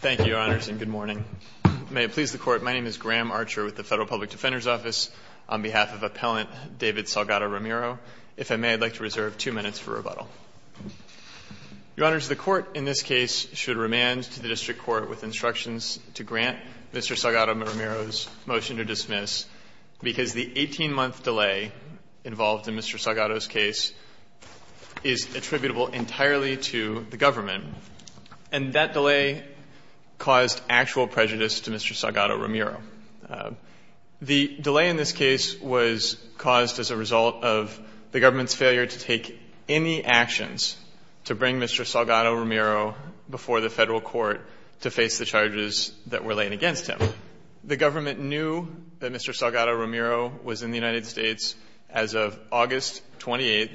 Thank you, Your Honors, and good morning. May it please the Court, my name is Graham Archer with the Federal Public Defender's Office on behalf of Appellant David Salgado-Ramiro. If I may, I'd like to reserve two minutes for rebuttal. Your Honors, the Court in this case should remand to the District Court with instructions to grant Mr. Salgado-Ramiro's motion to dismiss because the 18-month delay involved in Mr. Salgado's case is attributable entirely to the government, and that delay caused actual prejudice to Mr. Salgado-Ramiro. The delay in this case was caused as a result of the government's failure to take any actions to bring Mr. Salgado-Ramiro before the Federal Court to face the charges that were laid against him. The government knew that Mr. Salgado-Ramiro was in the United States as of August 28th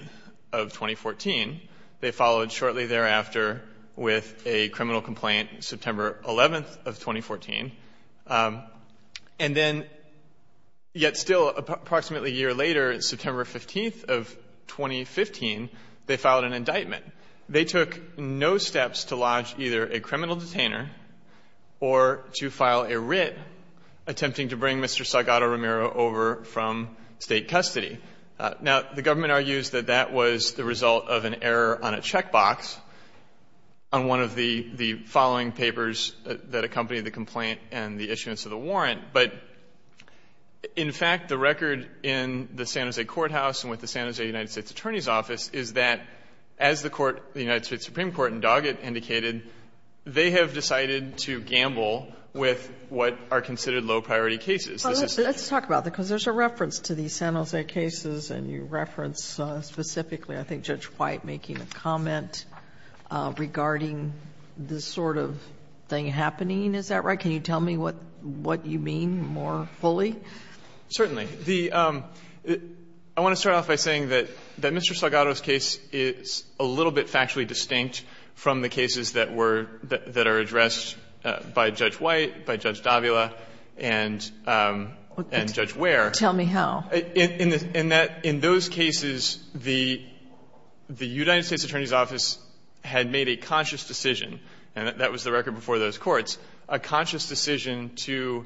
of 2014. They followed shortly thereafter with a criminal complaint, September 11th of 2014. And then, yet still approximately a year later, September 15th of 2015, they filed an indictment. They took no steps to lodge either a criminal detainer or to file a writ attempting to bring Mr. Salgado-Ramiro over from State custody. Now, the government argues that that was the result of an error on a checkbox on one of the following papers that accompanied the complaint and the issuance of the warrant. But in fact, the record in the San Jose courthouse and with the San Jose United States Attorney's Office is that as the court, the United States Supreme Court in Doggett has indicated, they have decided to gamble with what are considered low-priority cases. This is the case. Sotomayor, let's talk about that, because there's a reference to these San Jose cases, and you reference specifically, I think, Judge White making a comment regarding this sort of thing happening. Is that right? Can you tell me what you mean more fully? Certainly. The — I want to start off by saying that Mr. Salgado's case is a little bit factually distinct from the cases that were — that are addressed by Judge White, by Judge Davila, and Judge Ware. Tell me how. In those cases, the United States Attorney's Office had made a conscious decision — and that was the record before those courts — a conscious decision to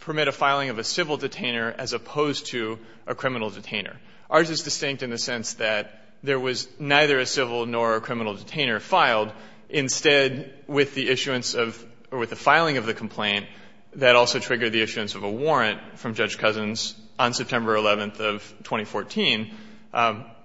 permit a filing of a civil detainer as opposed to a criminal detainer. Ours is distinct in the sense that there was neither a civil nor a criminal detainer filed. Instead, with the issuance of — or with the filing of the complaint, that also triggered the issuance of a warrant from Judge Cousins on September 11th of 2014.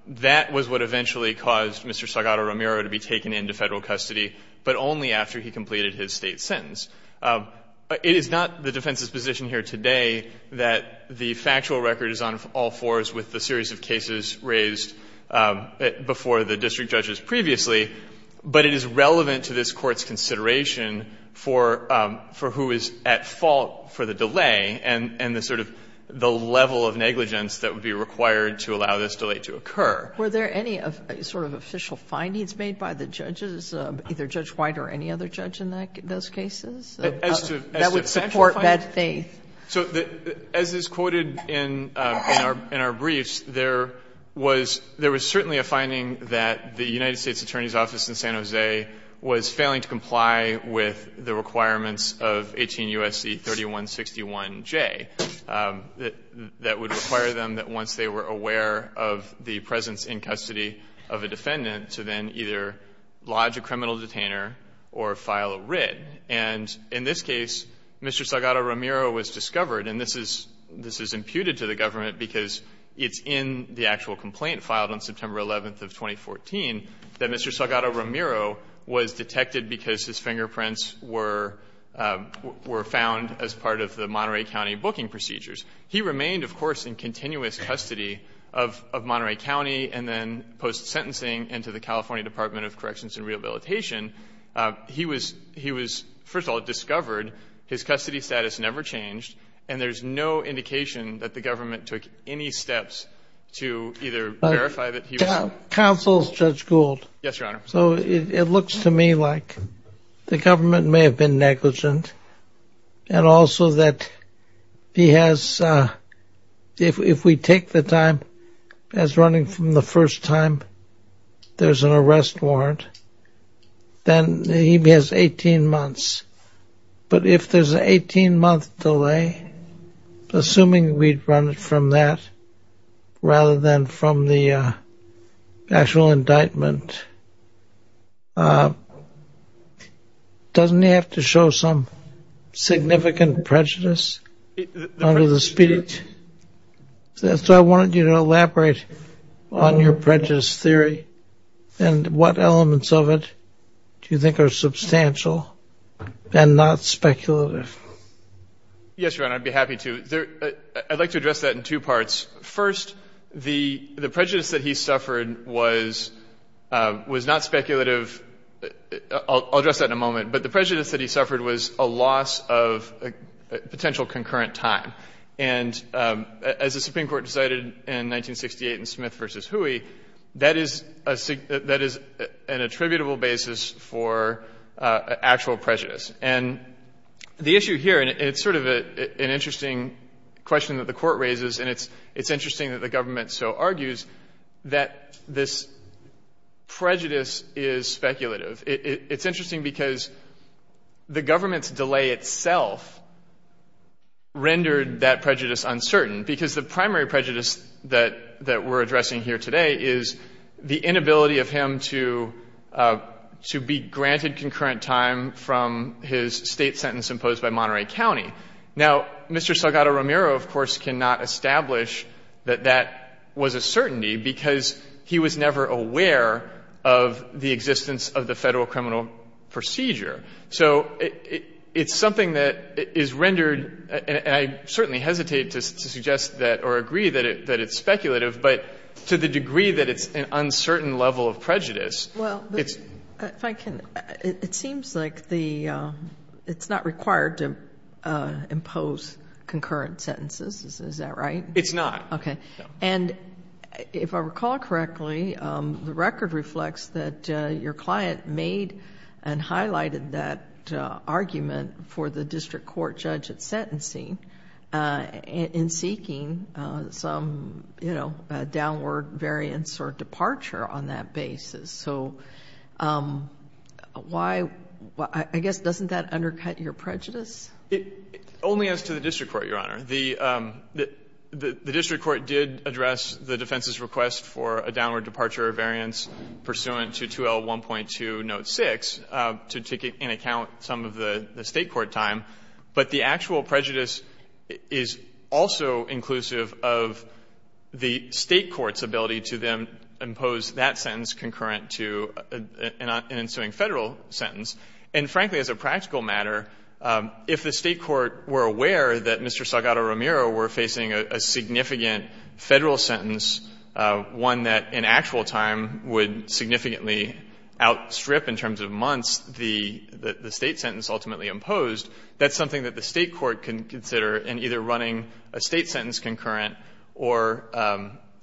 That was what eventually caused Mr. Salgado-Ramiro to be taken into Federal custody, but only after he completed his State sentence. It is not the defense's position here today that the factual record is on all fours with the series of cases raised before the district judges previously, but it is relevant to this Court's consideration for — for who is at fault for the delay and the sort of — the level of negligence that would be required to allow this delay to occur. Were there any sort of official findings made by the judges, either Judge White or any other judge in those cases, that would support that faith? So as is quoted in our briefs, there was — there was certainly a finding that the United States Attorney's Office in San Jose was failing to comply with the requirements of 18 U.S.C. 3161J that would require them that once they were aware of the presence in custody of a defendant to then either lodge a criminal detainer or file a writ. And in this case, Mr. Salgado-Ramiro was discovered, and this is — this is imputed to the government because it's in the actual complaint filed on September 11th of 2014 that Mr. Salgado-Ramiro was detected because his fingerprints were — were found as part of the Monterey County booking procedures. He remained, of course, in continuous custody of — of Monterey County and then post-sentencing into the California Department of Corrections and Rehabilitation. He was — he was, first of all, discovered. His custody status never changed. And there's no indication that the government took any steps to either verify that he was — Counsel, Judge Gould. Yes, Your Honor. So it looks to me like the government may have been negligent and also that he has — if we take the time as running from the first time, there's an arrest warrant. Then he has 18 months. But if there's an 18-month delay, assuming we'd run it from that rather than from the actual indictment, doesn't he have to show some significant prejudice under the speech? So I wanted you to elaborate on your prejudice theory and what elements of it do you think are substantial and not speculative? Yes, Your Honor. I'd be happy to. I'd like to address that in two parts. First, the prejudice that he suffered was — was not speculative. I'll address that in a moment. But the prejudice that he suffered was a loss of potential concurrent time. And as the Supreme Court decided in 1968 in Smith v. Hooey, that is a — that is an attributable basis for actual prejudice. And the issue here — and it's sort of an interesting question that the Court raises, and it's — it's interesting that the government so argues that this prejudice is speculative. It's interesting because the government's delay itself rendered that prejudice uncertain, because the primary prejudice that — that we're addressing here today is the inability of him to — to be granted concurrent time from his State sentence imposed by Monterey County. Now, Mr. Salgado-Ramiro, of course, cannot establish that that was a certainty because he was never aware of the existence of the federal criminal procedure. So it's something that is rendered — and I certainly hesitate to suggest that or agree that it — that it's speculative, but to the degree that it's an uncertain level of prejudice, it's — Well, if I can — it seems like the — it's not required to impose concurrent sentences. Is that right? It's not. Okay. And if I recall correctly, the record reflects that your client made and highlighted that argument for the district court judge at sentencing in seeking some, you know, downward variance or departure on that basis. So why — I guess doesn't that undercut your prejudice? Only as to the district court, Your Honor. The — the district court did address the defense's request for a downward departure of variance pursuant to 2L1.2, note 6, to take in account some of the State court time. But the actual prejudice is also inclusive of the State court's ability to then impose that sentence concurrent to an ensuing Federal sentence. And frankly, as a practical matter, if the State court were aware that Mr. Salgado-Ramiro were facing a significant Federal sentence, one that in actual time would significantly outstrip, in terms of months, the State sentence ultimately imposed, that's something that the State court can consider in either running a State sentence concurrent or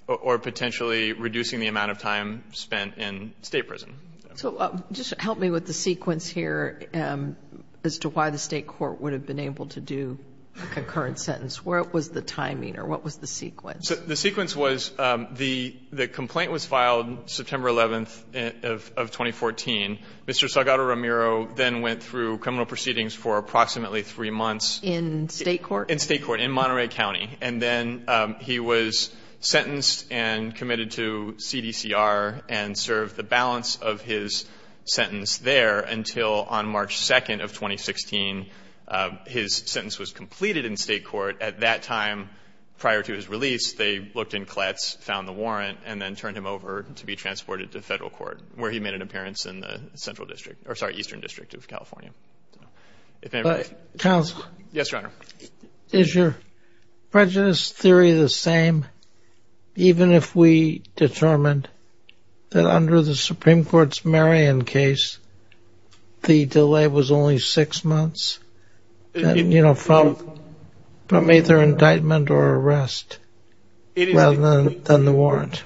potentially reducing the amount of time spent in State prison. So just help me with the sequence here as to why the State court would have been able to do a concurrent sentence. What was the timing or what was the sequence? The sequence was the — the complaint was filed September 11th of 2014. Mr. Salgado-Ramiro then went through criminal proceedings for approximately three months. In State court? In State court, in Monterey County. And then he was sentenced and committed to CDCR and served the balance of his sentence there until, on March 2nd of 2016, his sentence was completed in State court. At that time, prior to his release, they looked in Kletz, found the warrant, and then turned him over to be transported to Federal court, where he made an appearance in the Central District — or, sorry, Eastern District of California. If anybody — But, counsel — Yes, Your Honor. Is your prejudice theory the same, even if we determined that under the Supreme Court's Marion case, the delay was only six months, you know, from either indictment or arrest rather than the warrant?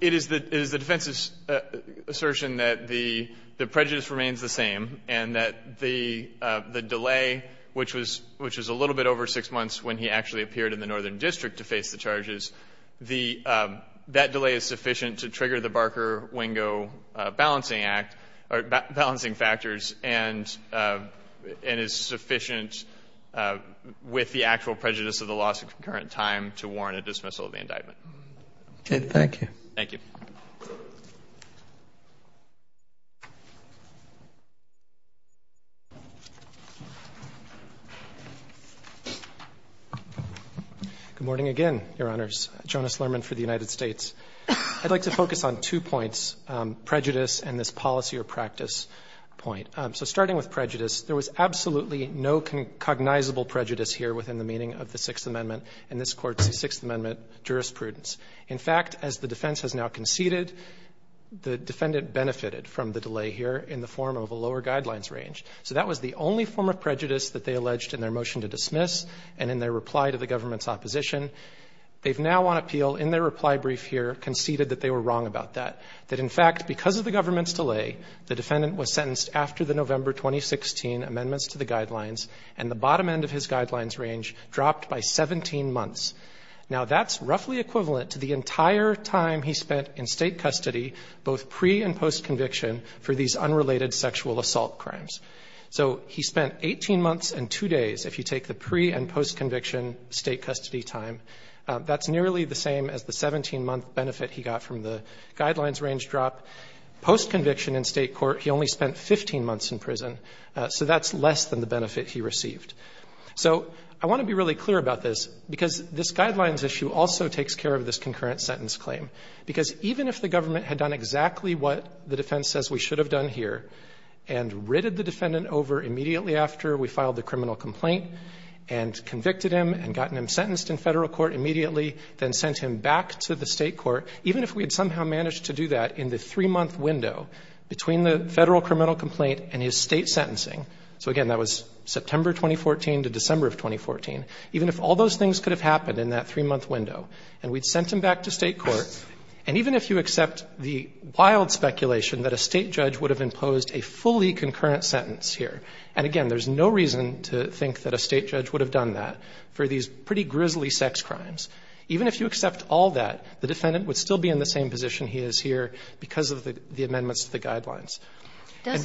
It is the defense's assertion that the prejudice remains the same and that the delay, which was — which was a little bit over six months when he actually appeared in the Northern District to face the charges, the — that delay is sufficient to trigger the Barker-Wingo balancing act — or balancing factors and is sufficient with the actual prejudice of the loss of concurrent time to warrant a dismissal of the indictment. Okay. Thank you. Thank you. Good morning again, Your Honors. Jonas Lerman for the United States. I'd like to focus on two points, prejudice and this policy or practice point. So starting with prejudice, there was absolutely no cognizable prejudice here within the meaning of the Sixth Amendment and this Court's Sixth Amendment jurisprudence. In fact, as the defense has now conceded, the defendant benefited from the delay here in the form of a lower guidelines range. So that was the only form of prejudice that they alleged in their motion to dismiss and in their reply to the government's opposition. They've now on appeal, in their reply brief here, conceded that they were wrong about that, that in fact, because of the government's delay, the defendant was sentenced after the November 2016 amendments to the guidelines and the bottom end of his guidelines range dropped by 17 months. Now, that's roughly equivalent to the entire time he spent in state custody, both pre- and post-conviction, for these unrelated sexual assault crimes. So he spent 18 months and two days, if you take the pre- and post-conviction state custody time, that's nearly the same as the 17-month benefit he got from the guidelines range drop. Post-conviction in state court, he only spent 15 months in prison, so that's less than the benefit he received. So I want to be really clear about this, because this guidelines issue also takes care of this concurrent sentence claim. Because even if the government had done exactly what the defense says we should have done here and ridded the defendant over immediately after we filed the criminal complaint and convicted him and gotten him sentenced in federal court immediately, then sent him back to the state court, even if we had somehow managed to do that in the three-month window between the federal criminal complaint and his state sentencing, so again, that was September 2014 to December of 2014, even if all those things could have happened in that three-month window, and we'd sent him back to state court, and even if you accept the wild speculation that a state judge would have imposed a fully concurrent sentence here, and again, there's no reason to think that a state judge would have done that for these pretty grisly sex crimes, even if you accept all that, the defendant would still be in the same position he is here because of the amendments to the guidelines. And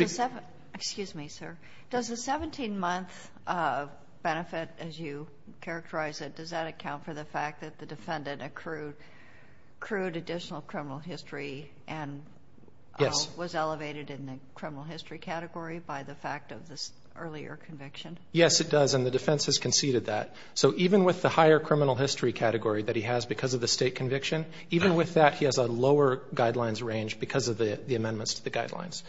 the 17 month benefit, as you characterize it, does that account for the fact that the defendant accrued additional criminal history and was elevated in the criminal history category by the fact of this earlier conviction? Yes, it does, and the defense has conceded that. So even with the higher criminal history category that he has because of the state conviction, even with that, he has a lower guidelines range because of the amendments to the guidelines.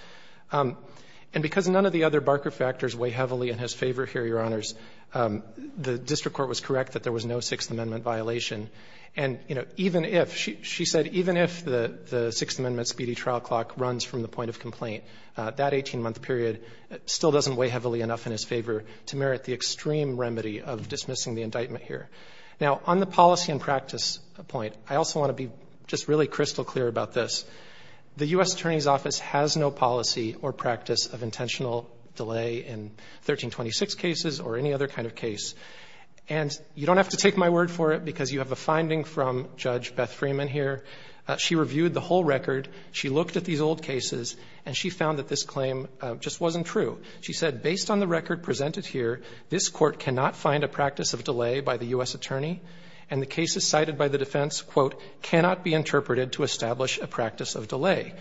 And because none of the other Barker factors weigh heavily in his favor here, Your Honors, the district court was correct that there was no Sixth Amendment violation. And, you know, even if, she said, even if the Sixth Amendment speedy trial clock runs from the point of complaint, that 18-month period still doesn't weigh heavily enough in his favor to merit the extreme remedy of dismissing the indictment here. Now, on the policy and practice point, I also want to be just really crystal clear about this. The U.S. Attorney's Office has no policy or practice of intentional delay in 1326 cases or any other kind of case. And you don't have to take my word for it because you have a finding from Judge Beth Freeman here. She reviewed the whole record. She looked at these old cases, and she found that this claim just wasn't true. She said, based on the record presented here, this court cannot find a practice of delay by the U.S. Attorney, and the cases cited by the defense, quote, cannot be interpreted to establish a practice of delay.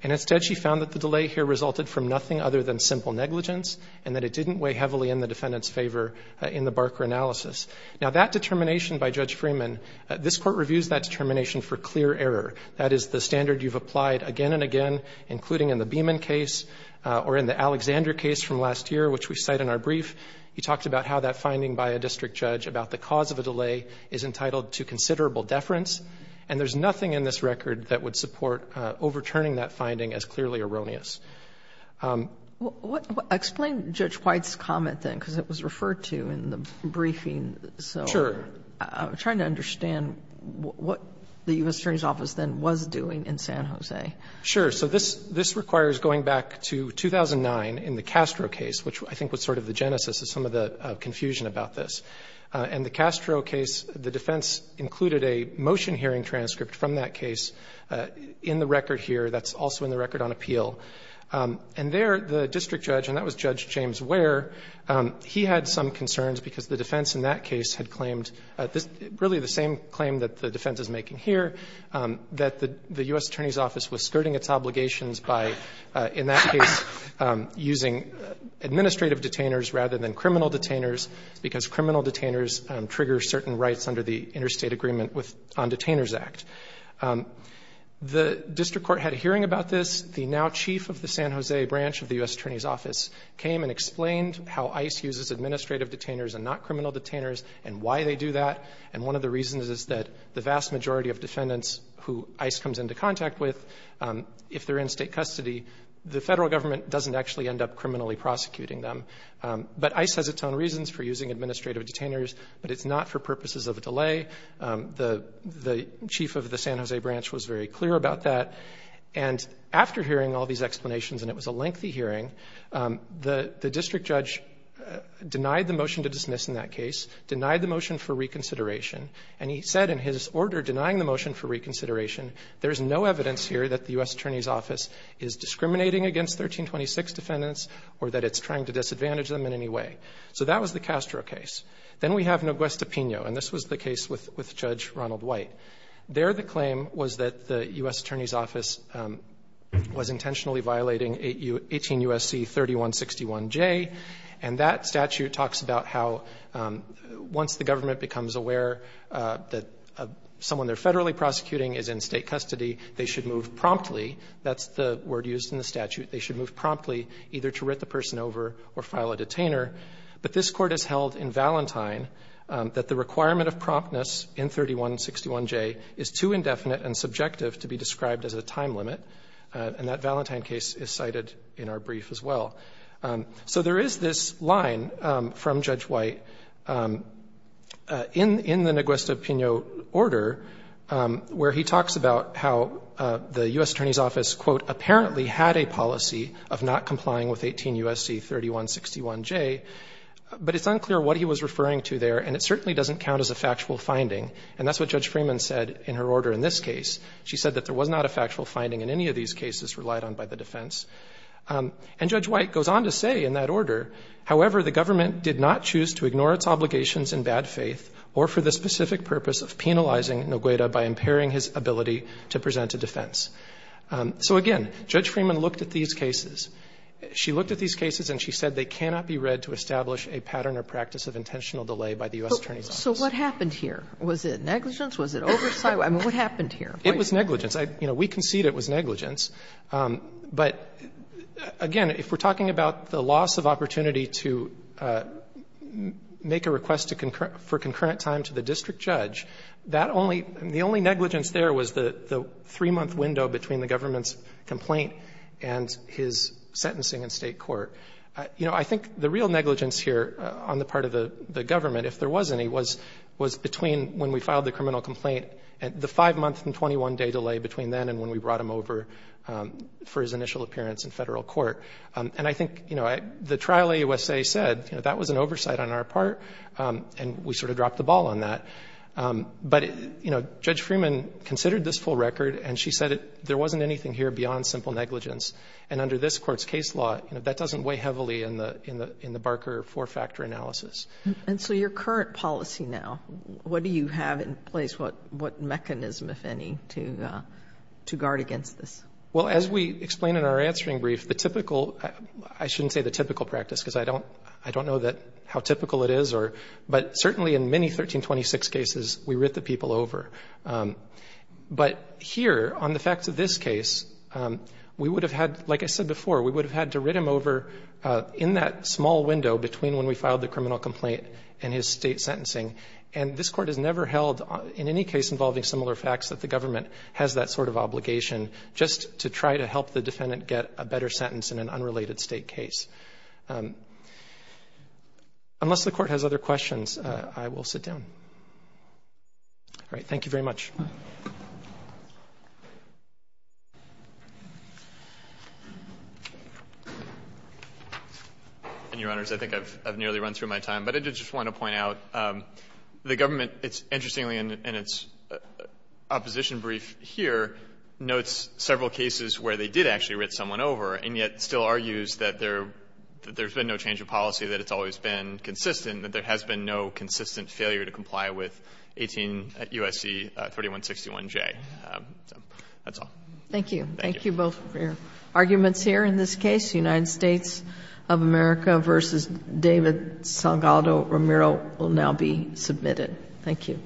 And instead, she found that the delay here resulted from nothing other than simple negligence and that it didn't weigh heavily in the defendant's favor in the Barker analysis. Now, that determination by Judge Freeman, this court reviews that determination for clear error. That is the standard you've applied again and again, including in the Beeman case or in the Alexander case from last year, which we cite in our brief. He talked about how that finding by a district judge about the cause of a delay is entitled to considerable deference. And there's nothing in this record that would support overturning that finding as clearly erroneous. What – explain Judge White's comment, then, because it was referred to in the briefing. So I'm trying to understand what the U.S. Attorney's Office then was doing in San Jose. Sure. So this requires going back to 2009 in the Castro case, which I think was sort of the genesis of some of the confusion about this. In the Castro case, the defense included a motion hearing transcript from that case in the record here. That's also in the record on appeal. And there, the district judge, and that was Judge James Ware, he had some concerns because the defense in that case had claimed really the same claim that the defense is making here, that the U.S. Attorney's Office was skirting its obligations by, in that case, using administrative detainers rather than criminal detainers because criminal detainers trigger certain rights under the Interstate Agreement on Detainers Act. The district court had a hearing about this. The now chief of the San Jose branch of the U.S. Attorney's Office came and explained how ICE uses administrative detainers and not criminal detainers and why they do that. And one of the reasons is that the vast majority of defendants who ICE comes into contact with, if they're in state custody, the federal government doesn't actually end up criminally prosecuting them. But ICE has its own reasons for using administrative detainers, but it's not for purposes of a delay. The chief of the San Jose branch was very clear about that. And after hearing all these explanations, and it was a lengthy hearing, the district judge denied the motion to dismiss in that case, denied the motion for reconsideration, and he said in his order denying the motion for reconsideration, there's no evidence here that the U.S. Attorney's Office is discriminating against 1326 defendants or that it's trying to disadvantage them in any way. So that was the Castro case. Then we have Noguesta-Piño, and this was the case with Judge Ronald White. There the claim was that the U.S. Attorney's Office was intentionally violating 18 U.S.C. 3161J, and that statute talks about how once the government becomes aware that someone they're federally prosecuting is in state custody, they should move promptly. That's the word used in the statute. They should move promptly, either to writ the person over or file a detainer. But this Court has held in Valentine that the requirement of promptness in 3161J is too indefinite and subjective to be described as a time limit, and that Valentine case is cited in our brief as well. So there is this line from Judge White in the Noguesta-Piño order where he talks about how the U.S. Attorney's Office, quote, apparently had a policy of not complying with 18 U.S.C. 3161J, but it's unclear what he was referring to there, and it certainly doesn't count as a factual finding, and that's what Judge Freeman said in her order in this case. She said that there was not a factual finding in any of these cases relied on by the defense. And Judge White goes on to say in that order, however, the government did not choose to ignore its obligations in bad faith or for the specific purpose of penalizing Noguesta by impairing his ability to present a defense. So again, Judge Freeman looked at these cases. She looked at these cases and she said they cannot be read to establish a pattern or practice of intentional delay by the U.S. Attorney's Office. Sotomayor So what happened here? Was it negligence? Was it oversight? I mean, what happened here? It was negligence. We concede it was negligence. But again, if we're talking about the loss of opportunity to make a request for concurrent time to the district judge, that only the only negligence there was the three-month window between the government's complaint and his sentencing in State court. I think the real negligence here on the part of the government, if there was any, was between when we filed the criminal complaint and the five-month and 21-day delay between then and when we brought him over for his initial appearance in federal court. And I think, you know, the trial AUSA said, you know, that was an oversight on our part and we sort of dropped the ball on that. But, you know, Judge Freeman considered this full record and she said there wasn't anything here beyond simple negligence. And under this court's case law, you know, that doesn't weigh heavily in the Barker four-factor analysis. And so your current policy now, what do you have in place? What mechanism, if any, to guard against this? Well, as we explain in our answering brief, the typical, I shouldn't say the typical practice because I don't know how typical it is, but certainly in many 1326 cases, we writ the people over. But here, on the facts of this case, we would have had, like I said before, we would state sentencing, and this court has never held in any case involving similar facts that the government has that sort of obligation just to try to help the defendant get a better sentence in an unrelated state case. Unless the court has other questions, I will sit down. All right. Thank you very much. And, Your Honors, I think I've nearly run through my time, but I did just want to point out the government, it's interestingly in its opposition brief here, notes several cases where they did actually writ someone over and yet still argues that there's been no change of policy, that it's always been consistent, that there has been no consistent failure to comply with 18 U.S.C. 3161J. So, that's all. Thank you. Thank you both for your arguments here. In this case, United States of America v. David Salgado-Ramiro will now be submitted. Thank you.